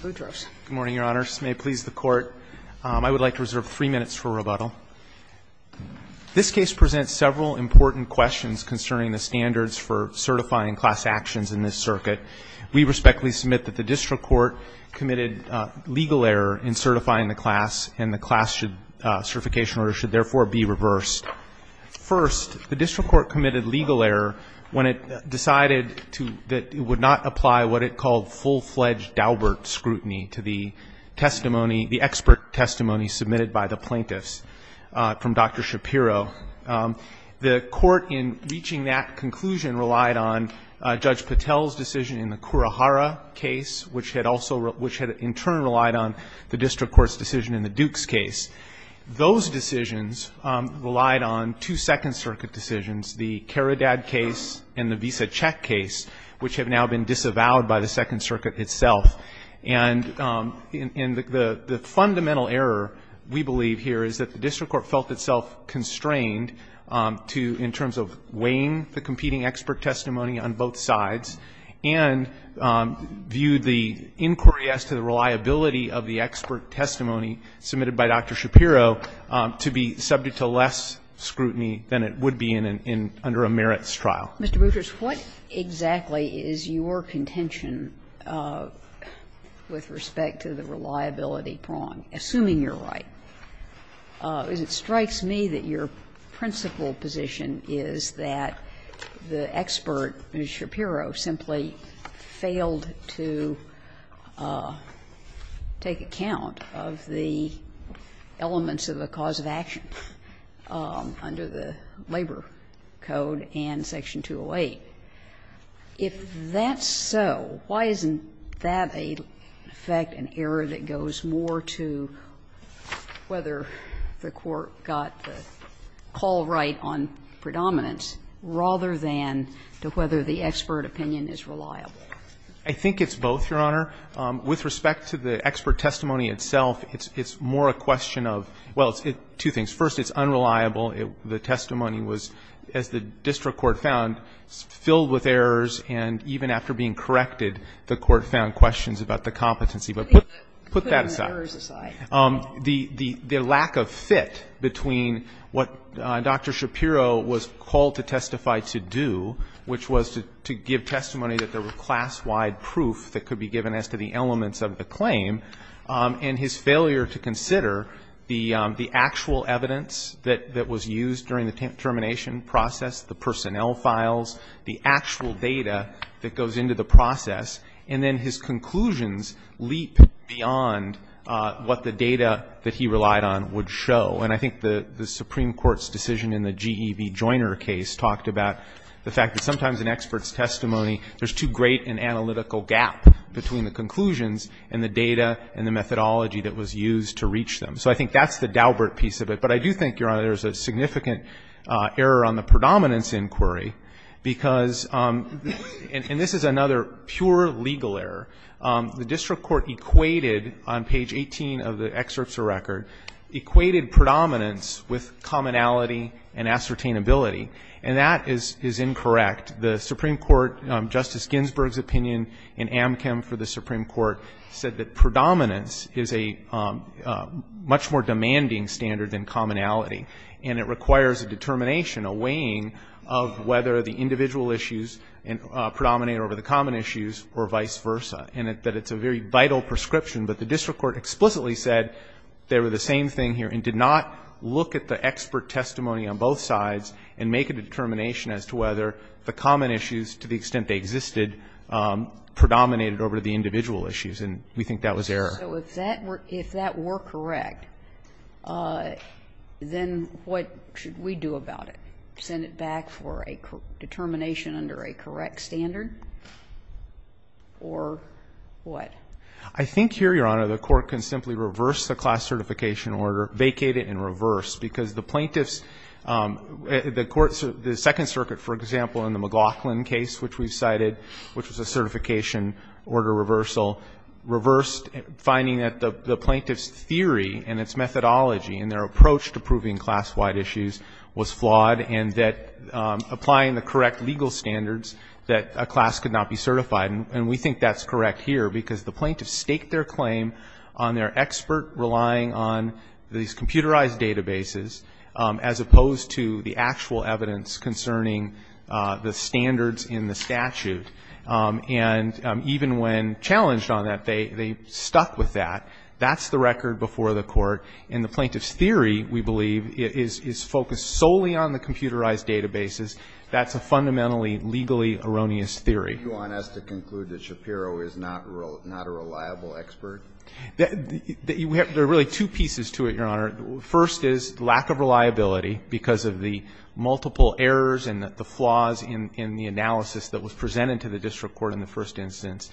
Good morning, Your Honors. May it please the Court, I would like to reserve three minutes for rebuttal. This case presents several important questions concerning the standards for certifying class actions in this circuit. We respectfully submit that the district court committed legal error in certifying the class and the class certification order should therefore be reversed. First, the district court committed legal error when it decided that it would not apply what it called full-fledged Daubert scrutiny to the testimony, the expert testimony submitted by the plaintiffs from Dr. Shapiro. The court in reaching that conclusion relied on Judge Patel's decision in the Kurohara case, which had in turn relied on the district court's decision in the Duke's case. Those decisions relied on two Second Circuit decisions, the Karadad case and the Visa Check case, which have now been disavowed by the Second Circuit itself. And the fundamental error, we believe here, is that the district court felt itself constrained to, in terms of weighing the competing expert testimony on both sides, and viewed the inquiry as to the reliability of the expert testimony submitted by Dr. Shapiro to be subject to less scrutiny than it would be in an under a merits trial. Mr. Boutrous, what exactly is your contention with respect to the reliability prong, assuming you're right? It strikes me that your principal position is that the expert, Mr. Shapiro, simply failed to take account of the elements of the cause of action under the Labor Code and Section 208. If that's so, why isn't that, in effect, an error that goes more to whether the court got the call right on predominance rather than to whether the expert opinion is reliable? I think it's both, Your Honor. With respect to the expert testimony itself, it's more a question of, well, two things. First, it's unreliable. The testimony was, as the district court found, filled with errors, and even after being corrected, the court found questions about the competency. But put that aside. Putting the errors aside. The lack of fit between what Dr. Shapiro was called to testify to do, which was to give testimony that there were class-wide proof that could be given as to the elements of the claim, and his failure to consider the actual evidence that was used during the termination process, the personnel files, the actual data that goes into the process, and then his conclusions leap beyond what the data that he relied on would show. And I think the Supreme Court's decision in the GEV Joiner case talked about the fact that sometimes in experts' testimony, there's too great an analytical gap between the conclusions and the data and the methodology that was used to reach them. So I think that's the Daubert piece of it. But I do think, Your Honor, there's a significant error on the predominance inquiry because, and this is another pure legal error, the district court equated on page 18 of the excerpts of the record, equated predominance with commonality and ascertainability, and that is incorrect. The Supreme Court, Justice Ginsburg's opinion in Amchem for the Supreme Court, said that predominance is a much more demanding standard than commonality, and it requires a determination, a weighing of whether the individual issues predominate over the common issues or vice versa, and that it's a very vital prescription. But the district court explicitly said they were the same thing here and did not look at the expert testimony on both sides and make a determination as to whether the common issues, to the extent they existed, predominated over the individual issues, and we think that was error. So if that were correct, then what should we do about it? Send it back for a determination under a correct standard or what? I think here, Your Honor, the Court can simply reverse the class certification order, vacate it and reverse, because the plaintiffs, the courts, the Second Circuit, for example, in the McLaughlin case, which we've cited, which was a certification order reversal, reversed, finding that the plaintiff's theory and its methodology in their approach to proving class-wide issues was flawed and that applying the correct legal standards, that a class could not be certified, and we think that's correct here, because the plaintiffs staked their claim on their expert relying on these computerized databases, as opposed to the actual evidence concerning the standards in the statute, and even when challenged on that, they stuck with that. That's the record before the Court, and the plaintiff's theory, we believe, is focused solely on the computerized databases. That's a fundamentally legally erroneous theory. Kennedy, do you want us to conclude that Shapiro is not a reliable expert? There are really two pieces to it, Your Honor. First is lack of reliability, because of the multiple errors and the flaws in the analysis that was presented to the district court in the first instance,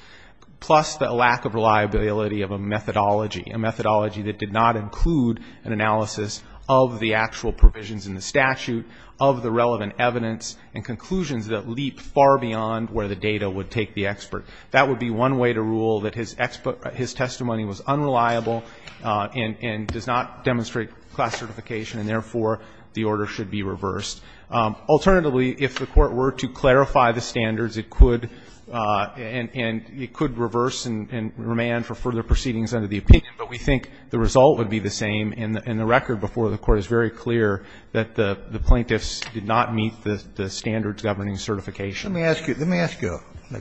plus the lack of reliability of a methodology, a methodology that did not include an analysis of the actual provisions in the statute, of the relevant evidence, and conclusions that leap far beyond where the data would take the expert. That would be one way to rule that his testimony was unreliable and does not demonstrate class certification, and therefore, the order should be reversed. Alternatively, if the Court were to clarify the standards, it could reverse and remand for further proceedings under the opinion, but we think the result would be the same, and the record before the Court is very clear that the plaintiffs did not meet the standards governing certification. Let me ask you a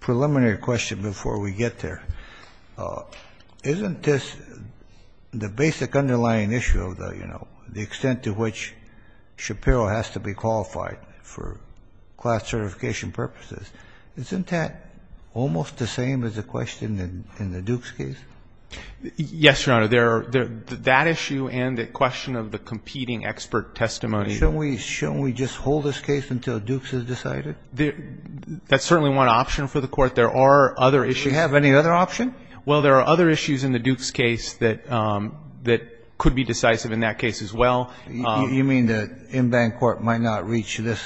preliminary question before we get there. Isn't this the basic underlying issue of the, you know, the extent to which Shapiro has to be qualified for class certification purposes, isn't that almost the same as the question in the Dukes case? Yes, Your Honor. That issue and the question of the competing expert testimony. Shouldn't we just hold this case until Dukes is decided? That's certainly one option for the Court. There are other issues. Do we have any other option? Well, there are other issues in the Dukes case that could be decisive in that case as well. You mean the in-bank Court might not reach this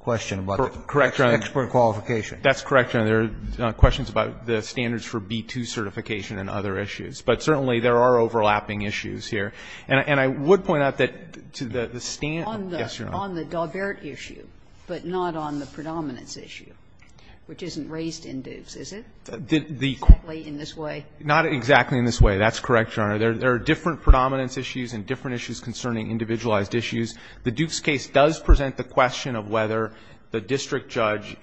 question about the expert qualification? That's correct, Your Honor. There are questions about the standards for B-2 certification and other issues. But certainly there are overlapping issues here. And I would point out that to the standard. On the Daubert issue, but not on the predominance issue, which isn't raised in Dukes, is it? Exactly in this way? Not exactly in this way. That's correct, Your Honor. There are different predominance issues and different issues concerning individualized issues. The Dukes case does present the question of whether the district judge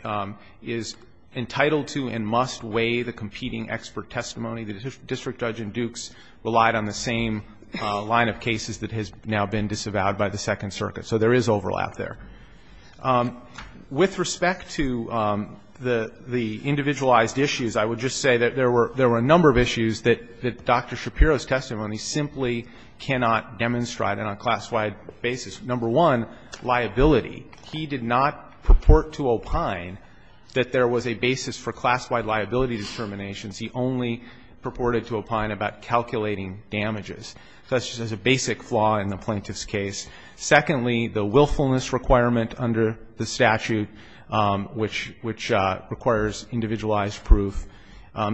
is entitled to and must weigh the competing expert testimony. The district judge in Dukes relied on the same line of cases that has now been disavowed by the Second Circuit, so there is overlap there. With respect to the individualized issues, I would just say that there were a number of issues that Dr. Shapiro's testimony simply cannot demonstrate on a class-wide basis. Number one, liability. He did not purport to opine that there was a basis for class-wide liability determinations. He only purported to opine about calculating damages. So that's just a basic flaw in the plaintiff's case. Secondly, the willfulness requirement under the statute, which requires individualized proof.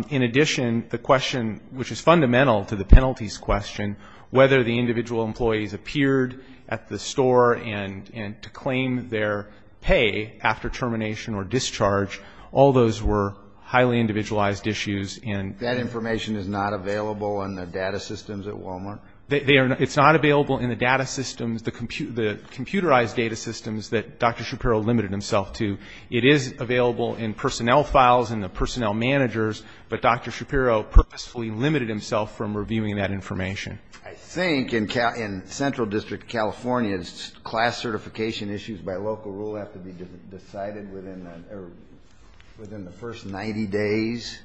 In addition, the question, which is fundamental to the penalties question, whether the individual employees appeared at the store and to claim their pay after termination or discharge, all those were highly individualized issues. And that information is not available in the data systems at Walmart? It's not available in the data systems, the computerized data systems that Dr. Shapiro limited himself to. It is available in personnel files and the personnel managers, but Dr. Shapiro purposefully limited himself from reviewing that information. I think in Central District California, class certification issues by local rule have to be decided within the first 90 days.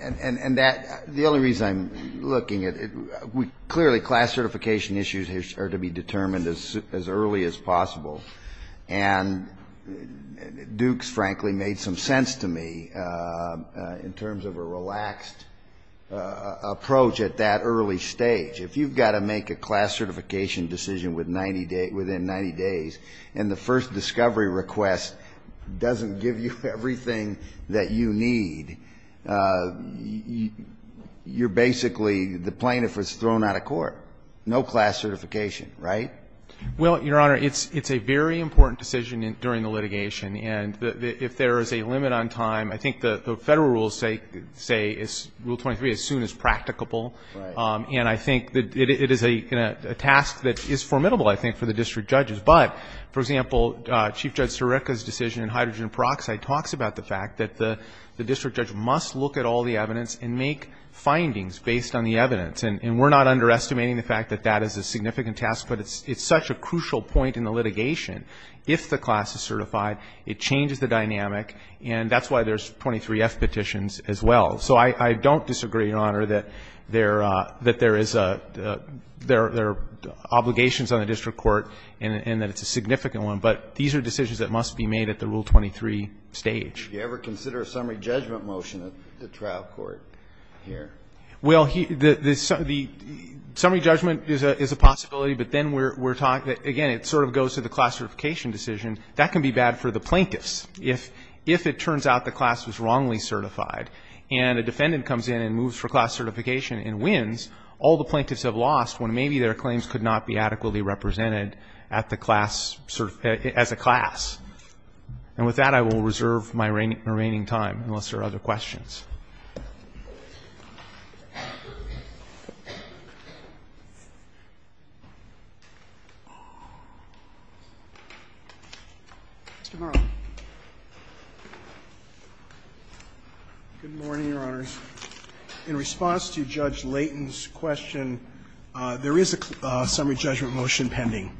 And that, the only reason I'm looking at it, clearly class certification issues are to be determined as early as possible. And Duke's frankly made some sense to me in terms of a relaxed approach at that early stage. If you've got to make a class certification decision within 90 days and the first discovery request doesn't give you everything that you need, you're basically the plaintiff was thrown out of court. No class certification, right? Well, Your Honor, it's a very important decision during the litigation. And if there is a limit on time, I think the Federal rules say rule 23 as soon as practicable. And I think it is a task that is formidable, I think, for the district judges. But, for example, Chief Judge Sirica's decision in hydrogen peroxide talks about the fact that the district judge must look at all the evidence and make findings based on the evidence. And we're not underestimating the fact that that is a significant task, but it's such a crucial point in the litigation. If the class is certified, it changes the dynamic and that's why there's 23F petitions as well. So I don't disagree, Your Honor, that there is a, there are obligations on the district court and that it's a significant one. But these are decisions that must be made at the rule 23 stage. Do you ever consider a summary judgment motion at the trial court here? Well, the summary judgment is a possibility, but then we're talking, again, it sort of goes to the class certification decision. That can be bad for the plaintiffs. If it turns out the class was wrongly certified and a defendant comes in and moves for class certification and wins, all the plaintiffs have lost when maybe their claims could not be adequately represented at the class, as a class. And with that, I will reserve my remaining time, unless there are other questions. Mr. Morrow. Good morning, Your Honors. In response to Judge Layton's question, there is a summary judgment motion pending.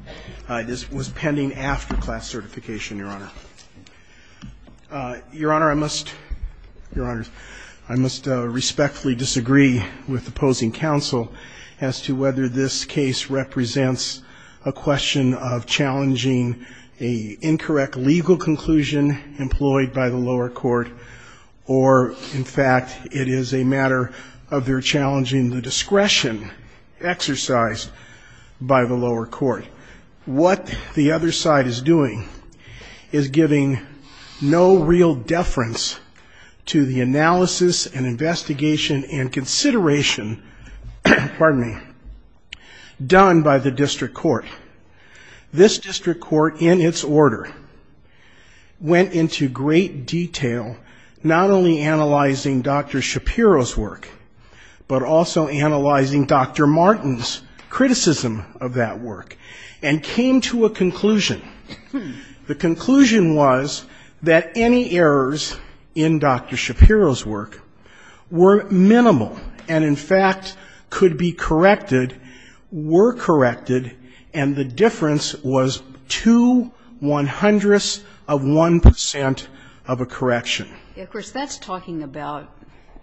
This was pending after class certification, Your Honor. Your Honor, I must respectfully disagree with opposing counsel as to whether this case represents a question of challenging an incorrect legal conclusion employed by the lower court or, in fact, it is a matter of their challenging the discretion exercised by the lower court. What the other side is doing is giving no real deference to the analysis and investigation and consideration, pardon me, done by the district court. This district court, in its order, went into great detail, not only analyzing Dr. Shapiro's work, but also analyzing Dr. Martin's criticism of that work and came to a conclusion. The conclusion was that any errors in Dr. Shapiro's work were minimal and, in fact, could be corrected, were corrected, and the difference was two one-hundredths of one percent of a correction. Of course, that's talking about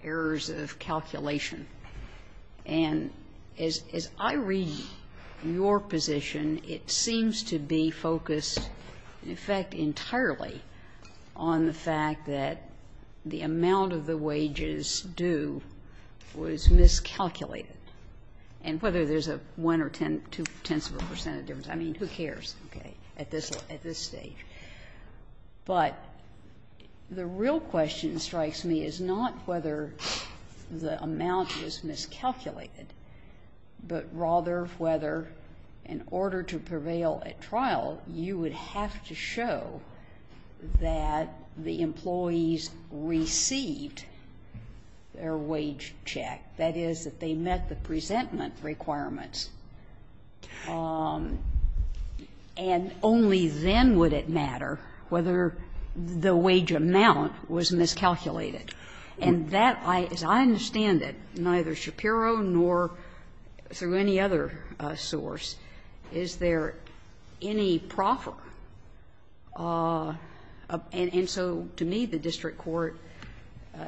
errors of calculation. And as I read your position, it seems to be focused, in fact, entirely on the fact that the amount of the wages due was miscalculated. And whether there's a one or two-tenths of a percent of difference, I mean, who cares, okay, at this stage. But the real question strikes me as not whether the amount was miscalculated, but rather whether, in order to prevail at trial, you would have to show that the employees received their wage check, that is, that they met the presentment requirements. And only then would it matter whether the wage amount was miscalculated. And that, as I understand it, neither Shapiro nor through any other source, is there any proffer. And so to me, the district court,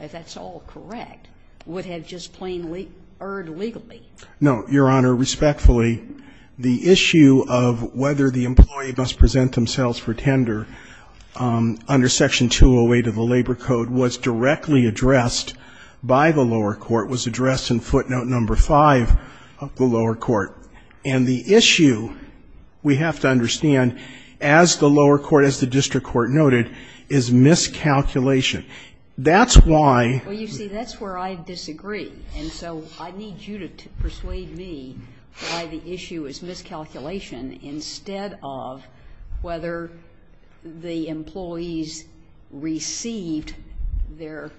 if that's all correct, would have just plainly erred legally. No, Your Honor, respectfully, the issue of whether the employee must present themselves for tender under Section 208 of the Labor Code was directly addressed by the lower court, was addressed in footnote number 5 of the lower court. And the issue, we have to understand, as the lower court, as the district court noted, is miscalculation. That's why. Well, you see, that's where I disagree. And so I need you to persuade me why the issue is miscalculation instead of whether the employees received their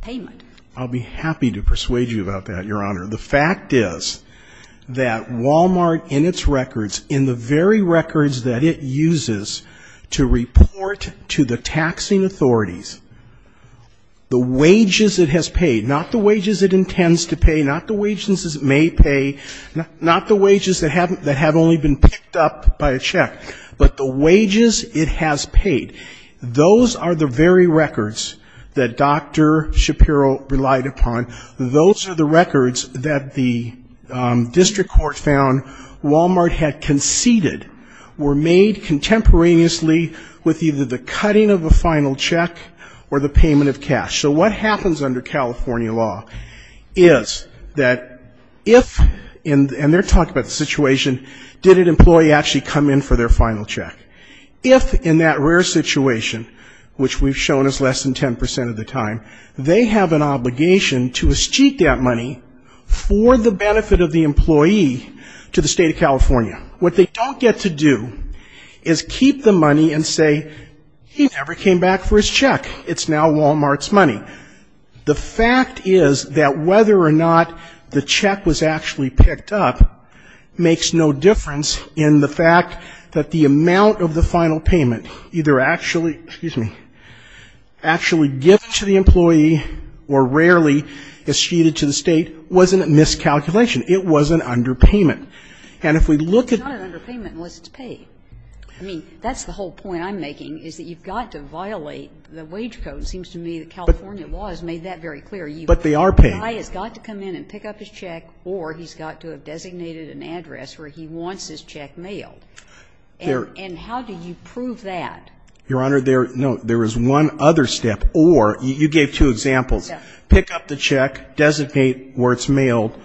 payment. I'll be happy to persuade you about that, Your Honor. The fact is that Walmart, in its records, in the very records that it uses to report to the taxing authorities, the wages it has paid, not the wages it intends to pay, not the wages it may pay, not the wages that have only been picked up by a check, but the wages it has paid, those are the very records that Dr. Shapiro relied upon. Those are the records that the district court found Walmart had conceded were made contemporaneously with either the cutting of a final check or the payment of cash. So what happens under California law is that if, and they're talking about the situation, did an employee actually come in for their final check? If in that rare situation, which we've shown is less than 10% of the time, they have an obligation to escheat that money for the benefit of the employee to the state of California. What they don't get to do is keep the money and say, he never came back for his check. It's now Walmart's money. The fact is that whether or not the check was actually picked up makes no difference in the fact that the amount of the final payment either actually, excuse me, actually given to the employee or rarely escheated to the state wasn't a miscalculation. It was an underpayment. And if we look at. It's not an underpayment unless it's paid. I mean, that's the whole point I'm making is that you've got to violate the wage code. It seems to me that California law has made that very clear. But they are paid. The guy has got to come in and pick up his check or he's got to have designated an address where he wants his check mailed. And how do you prove that? Your Honor, there is one other step or you gave two examples. Pick up the check, designate where it's mailed.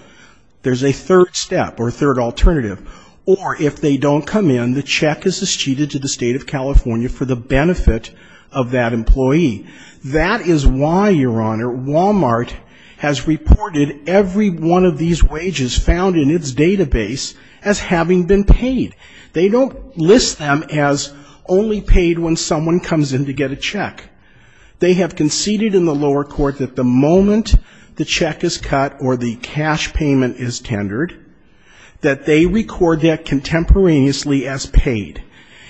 There's a third step or a third alternative. Or if they don't come in, the check is escheated to the state of California for the benefit of that employee. That is why, Your Honor, Walmart has reported every one of these wages found in its database as having been paid. They don't list them as only paid when someone comes in to get a check. They have conceded in the lower court that the moment the check is cut or the cash payment is tendered, that they record that contemporaneously as paid.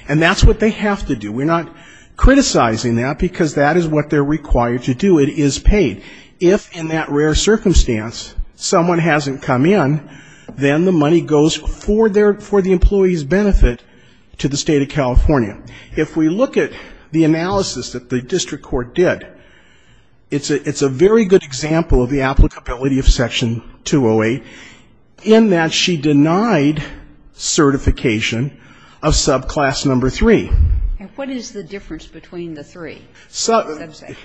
And that's what they have to do. We're not criticizing that because that is what they're required to do. It is paid. If in that rare circumstance someone hasn't come in, then the money goes for the employee's benefit to the state of California. If we look at the analysis that the district court did, it's a very good example of the applicability of Section 208 in that she denied certification of subclass number three. And what is the difference between the three? Subclass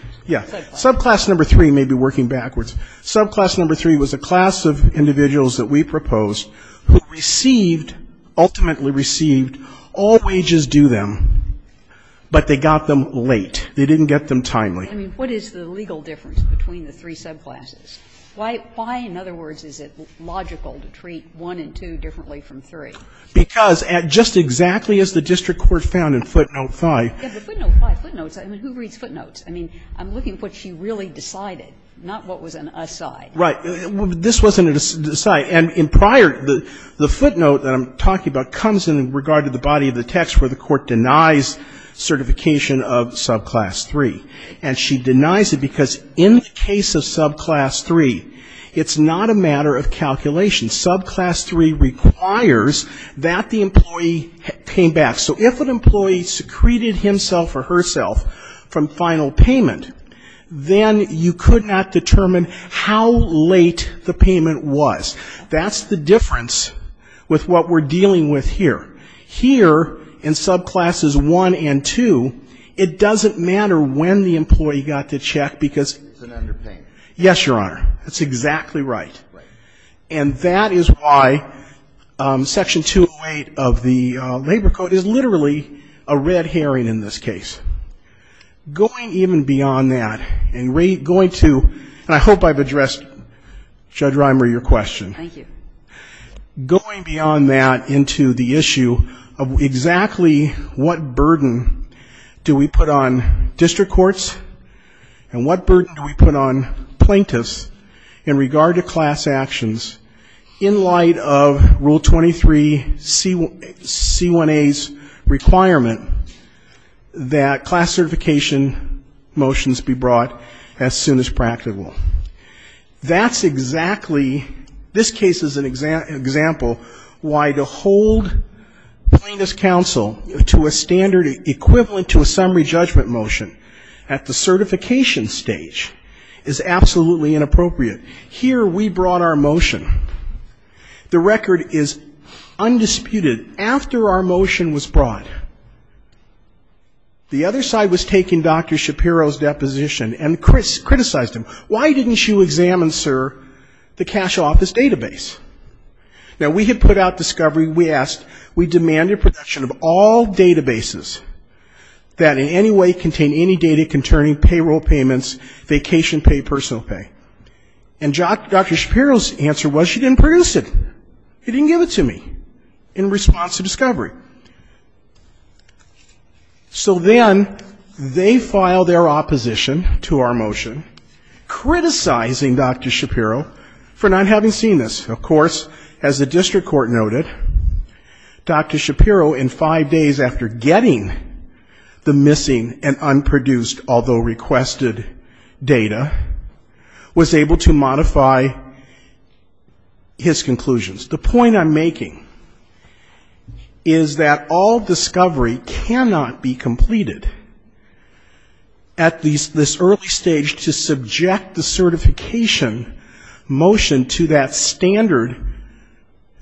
number three may be working backwards. Subclass number three was a class of individuals that we proposed who received ultimately received all wages due them, but they got them late. They didn't get them timely. I mean, what is the legal difference between the three subclasses? Why, in other words, is it logical to treat one and two differently from three? Because just exactly as the district court found in footnote 5. Yeah, but footnote 5, footnotes, I mean, who reads footnotes? I mean, I'm looking at what she really decided, not what was an aside. Right. This wasn't an aside. And in prior, the footnote that I'm talking about comes in regard to the body of the text where the court denies certification of subclass three. And she denies it because in the case of subclass three, it's not a matter of calculation. Subclass three requires that the employee came back. So if an employee secreted himself or herself from final payment, then you could not determine how late the payment was. That's the difference with what we're dealing with here. Here, in subclasses one and two, it doesn't matter when the employee got the check because he's an underpayment. Yes, Your Honor. That's exactly right. Right. And that is why Section 208 of the Labor Code is literally a red herring in this case. Going even beyond that and going to, and I hope I've addressed, Judge Reimer, your question. Thank you. Going beyond that into the issue of exactly what burden do we put on district courts and what burden do we put on plaintiffs in regard to class actions in light of Rule 23C1A's requirement that class certification motions be brought as soon as practical? That's exactly, this case is an example why to hold plaintiff's counsel to a standard equivalent to a summary judgment motion at the certification stage is absolutely inappropriate. Here, we brought our motion. The record is undisputed. After our motion was brought, the other side was taking Dr. Shapiro's deposition and criticized him. Why didn't you examine, sir, the cash office database? Now, we had put out discovery, we asked, we demanded production of all databases that in any way contain any data concerning payroll payments, vacation pay, personal pay. And Dr. Shapiro's answer was she didn't produce it. He didn't give it to me in response to discovery. So then they filed their opposition to our motion, criticizing Dr. Shapiro for not having seen this. Of course, as the district court noted, Dr. Shapiro, in five days after getting the missing and unproduced, although requested, data, was able to modify his conclusions. The point I'm making is that all discovery cannot be completed at this early stage to subject the certification motion to that standard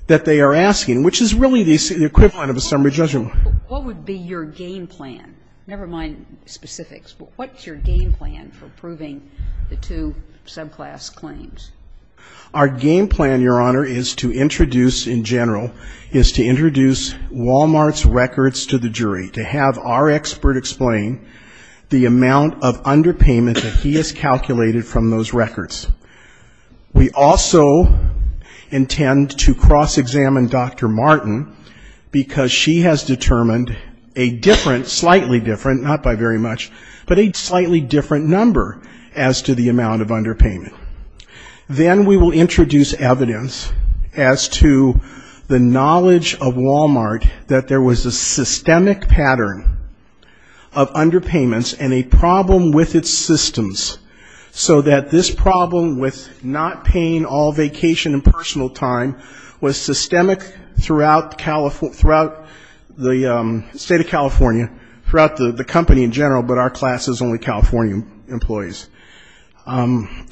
that they are asking, which is really the equivalent of a summary judgment. What would be your game plan? Never mind specifics, but what's your game plan for proving the two subclass claims? Our game plan, Your Honor, is to introduce, in general, is to introduce Wal-Mart's records to the jury, to have our expert explain the amount of underpayment that he has calculated from those records. We also intend to cross-examine Dr. Martin, because she has determined a different, slightly different, not by very much, but a slightly different number as to the amount of underpayment. Then we will introduce evidence as to the knowledge of Wal-Mart that there was a systemic pattern of underpayments and a problem with its systems, so that this problem with not paying all vacation and personal time was systemic throughout the state of California, throughout the company in general, but our class is only California employees. And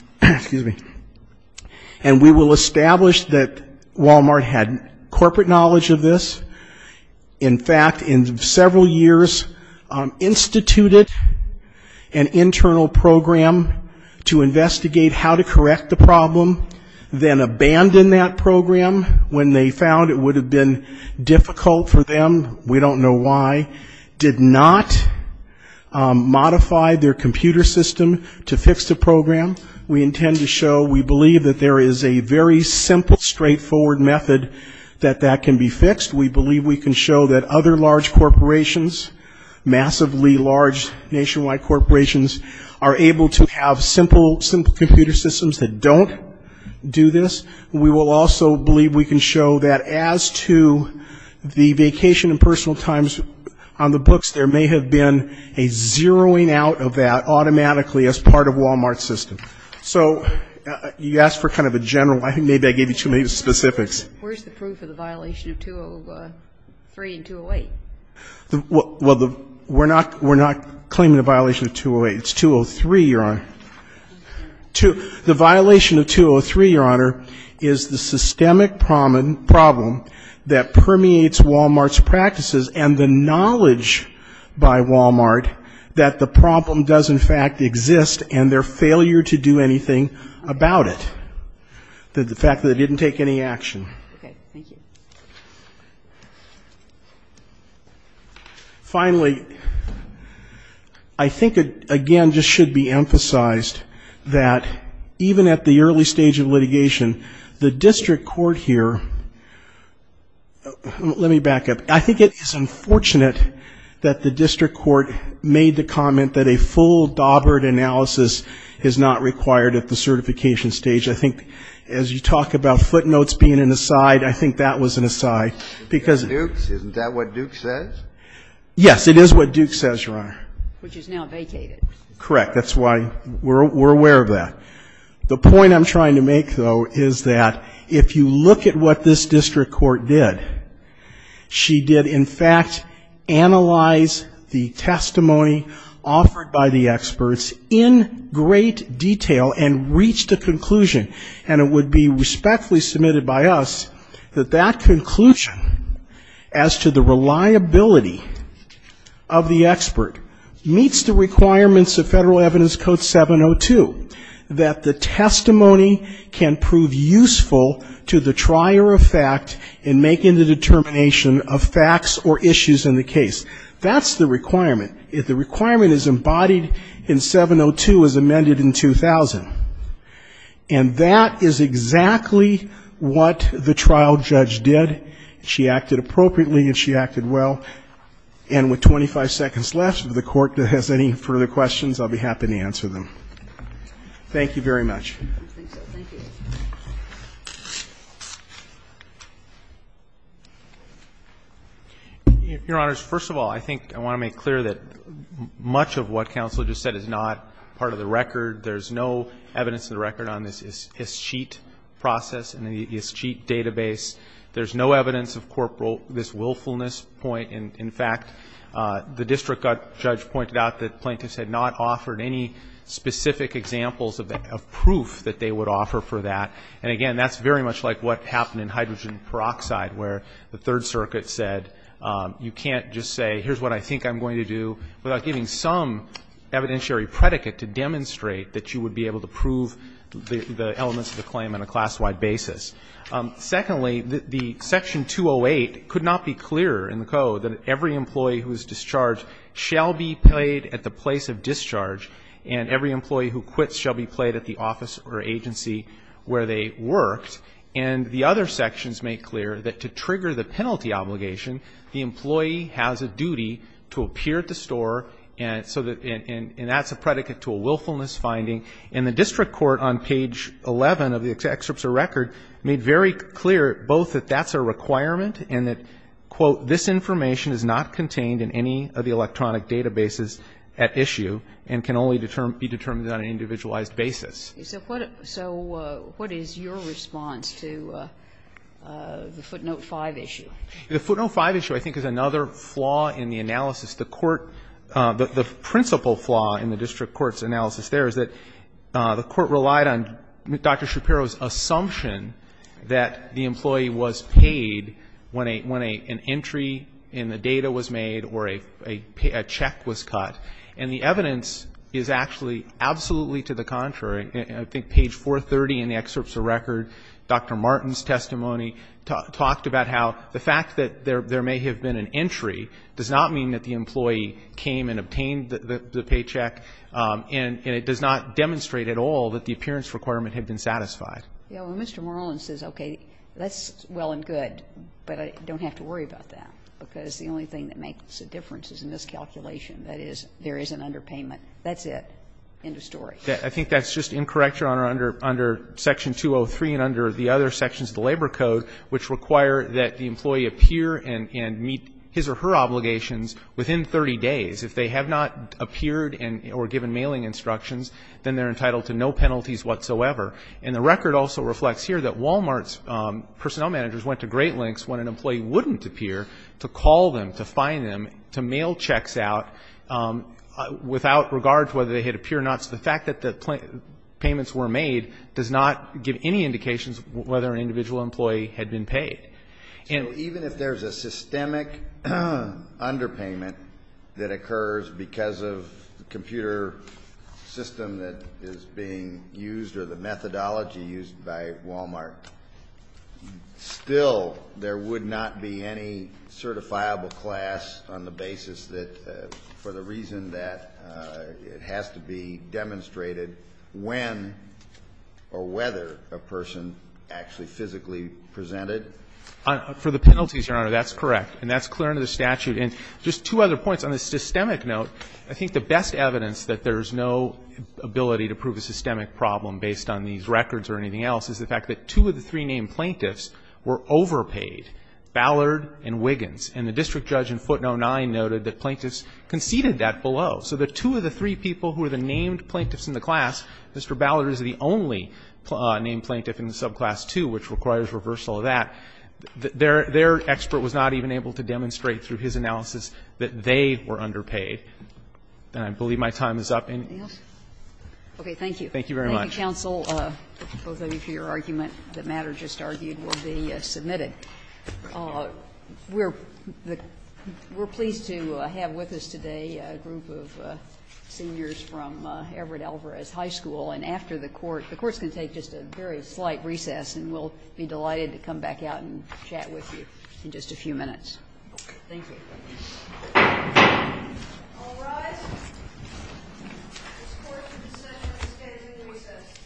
we will establish that Wal-Mart had corporate knowledge of this. In fact, in several years, instituted an internal program to investigate how to correct the problem, then abandoned that program when they found it would have been difficult for them, we don't know why, did not modify their computer system to fix the program. We intend to show we believe that there is a very simple, straightforward method that can be fixed. We believe we can show that other large corporations, massively large nationwide corporations, are able to have simple computer systems that don't do this. We will also believe we can show that as to the vacation and personal times on the books, there may have been a zeroing out of that automatically as part of Wal-Mart's system. So you asked for kind of a general, I think maybe I gave you too many specifics. Where's the proof of the violation of 203 and 208? Well, we're not claiming the violation of 208. It's 203, Your Honor. The violation of 203, Your Honor, is the systemic problem that permeates Wal-Mart's practices and the knowledge by Wal-Mart that the problem does in fact exist and their failure to do any action. Okay. Thank you. Finally, I think, again, just should be emphasized that even at the early stage of litigation, the district court here, let me back up. I think it is unfortunate that the district court made the comment that a full Daubert analysis is not required at the certification stage. I think as you talk about footnotes being an aside, I think that was an aside because Isn't that what Duke says? Yes, it is what Duke says, Your Honor. Which is now vacated. Correct. That's why we're aware of that. The point I'm trying to make, though, is that if you look at what this district court did, she did in fact analyze the testimony offered by the experts in great detail and reached a conclusion, and it would be respectfully submitted by us that that conclusion as to the reliability of the expert meets the requirements of Federal Evidence Code 702, that the testimony can prove useful to the trier of fact in making the determination of facts or issues in the case. That's the requirement. The requirement is embodied in 702 as amended in 2000. And that is exactly what the trial judge did. She acted appropriately and she acted well. And with 25 seconds left, if the Court has any further questions, I'll be happy to answer them. Thank you very much. I think so. Thank you. Your Honors, first of all, I think I want to make clear that much of what counsel just said is not part of the record. There's no evidence of the record on this ISCHEIT process and the ISCHEIT database. There's no evidence of this willfulness point. In fact, the district judge pointed out that plaintiffs had not offered any specific examples of proof that they would offer for that. And again, that's very much like what happened in hydrogen peroxide where the Third Circuit said you can't just say here's what I think I'm going to do without giving some evidentiary predicate to demonstrate that you would be able to prove the elements of the claim on a class-wide basis. Secondly, the Section 208 could not be clearer in the code that every employee who is office or agency where they worked. And the other sections make clear that to trigger the penalty obligation, the employee has a duty to appear at the store and so that's a predicate to a willfulness finding. And the district court on page 11 of the excerpts of record made very clear both that that's a requirement and that, quote, this information is not contained in any of the electronic databases at issue and can only be determined on an individualized basis. So what is your response to the footnote 5 issue? The footnote 5 issue I think is another flaw in the analysis. The court, the principal flaw in the district court's analysis there is that the court relied on Dr. Shapiro's assumption that the employee was paid when an entry in the data was made or a check was cut. And the evidence is actually absolutely to the contrary. I think page 430 in the excerpts of record, Dr. Martin's testimony talked about how the fact that there may have been an entry does not mean that the employee came and obtained the paycheck and it does not demonstrate at all that the appearance requirement had been satisfied. Well, Mr. Merlin says, okay, that's well and good, but I don't have to worry about that, because the only thing that makes a difference is in this calculation. That is, there is an underpayment. That's it. End of story. I think that's just incorrect, Your Honor, under section 203 and under the other sections of the Labor Code, which require that the employee appear and meet his or her obligations within 30 days. If they have not appeared or given mailing instructions, then they are entitled to no penalties whatsoever. And the record also reflects here that Walmart's personnel managers went to great to call them, to find them, to mail checks out without regard to whether they had appeared or not, so the fact that the payments were made does not give any indications whether an individual employee had been paid. So even if there's a systemic underpayment that occurs because of the computer system that is being used or the methodology used by Walmart, still there would not be any certifiable class on the basis that for the reason that it has to be demonstrated when or whether a person actually physically presented? For the penalties, Your Honor, that's correct, and that's clear under the statute. And just two other points. On the systemic note, I think the best evidence that there is no ability to prove a systemic problem based on these records or anything else is the fact that two of the three named plaintiffs were overpaid, Ballard and Wiggins. And the district judge in footnote 9 noted that plaintiffs conceded that below. So the two of the three people who are the named plaintiffs in the class, Mr. Ballard is the only named plaintiff in the subclass 2, which requires reversal of that. Their expert was not even able to demonstrate through his analysis that they were underpaid. And I believe my time is up. Thank you very much. Thank you, counsel, both of you for your argument. The matter just argued will be submitted. We're pleased to have with us today a group of seniors from Everett Alvarez High School. And after the Court, the Court's going to take just a very slight recess, and we'll be delighted to come back out and chat with you in just a few minutes. Thank you. All rise. This Court has decided to extend recess. Thank you.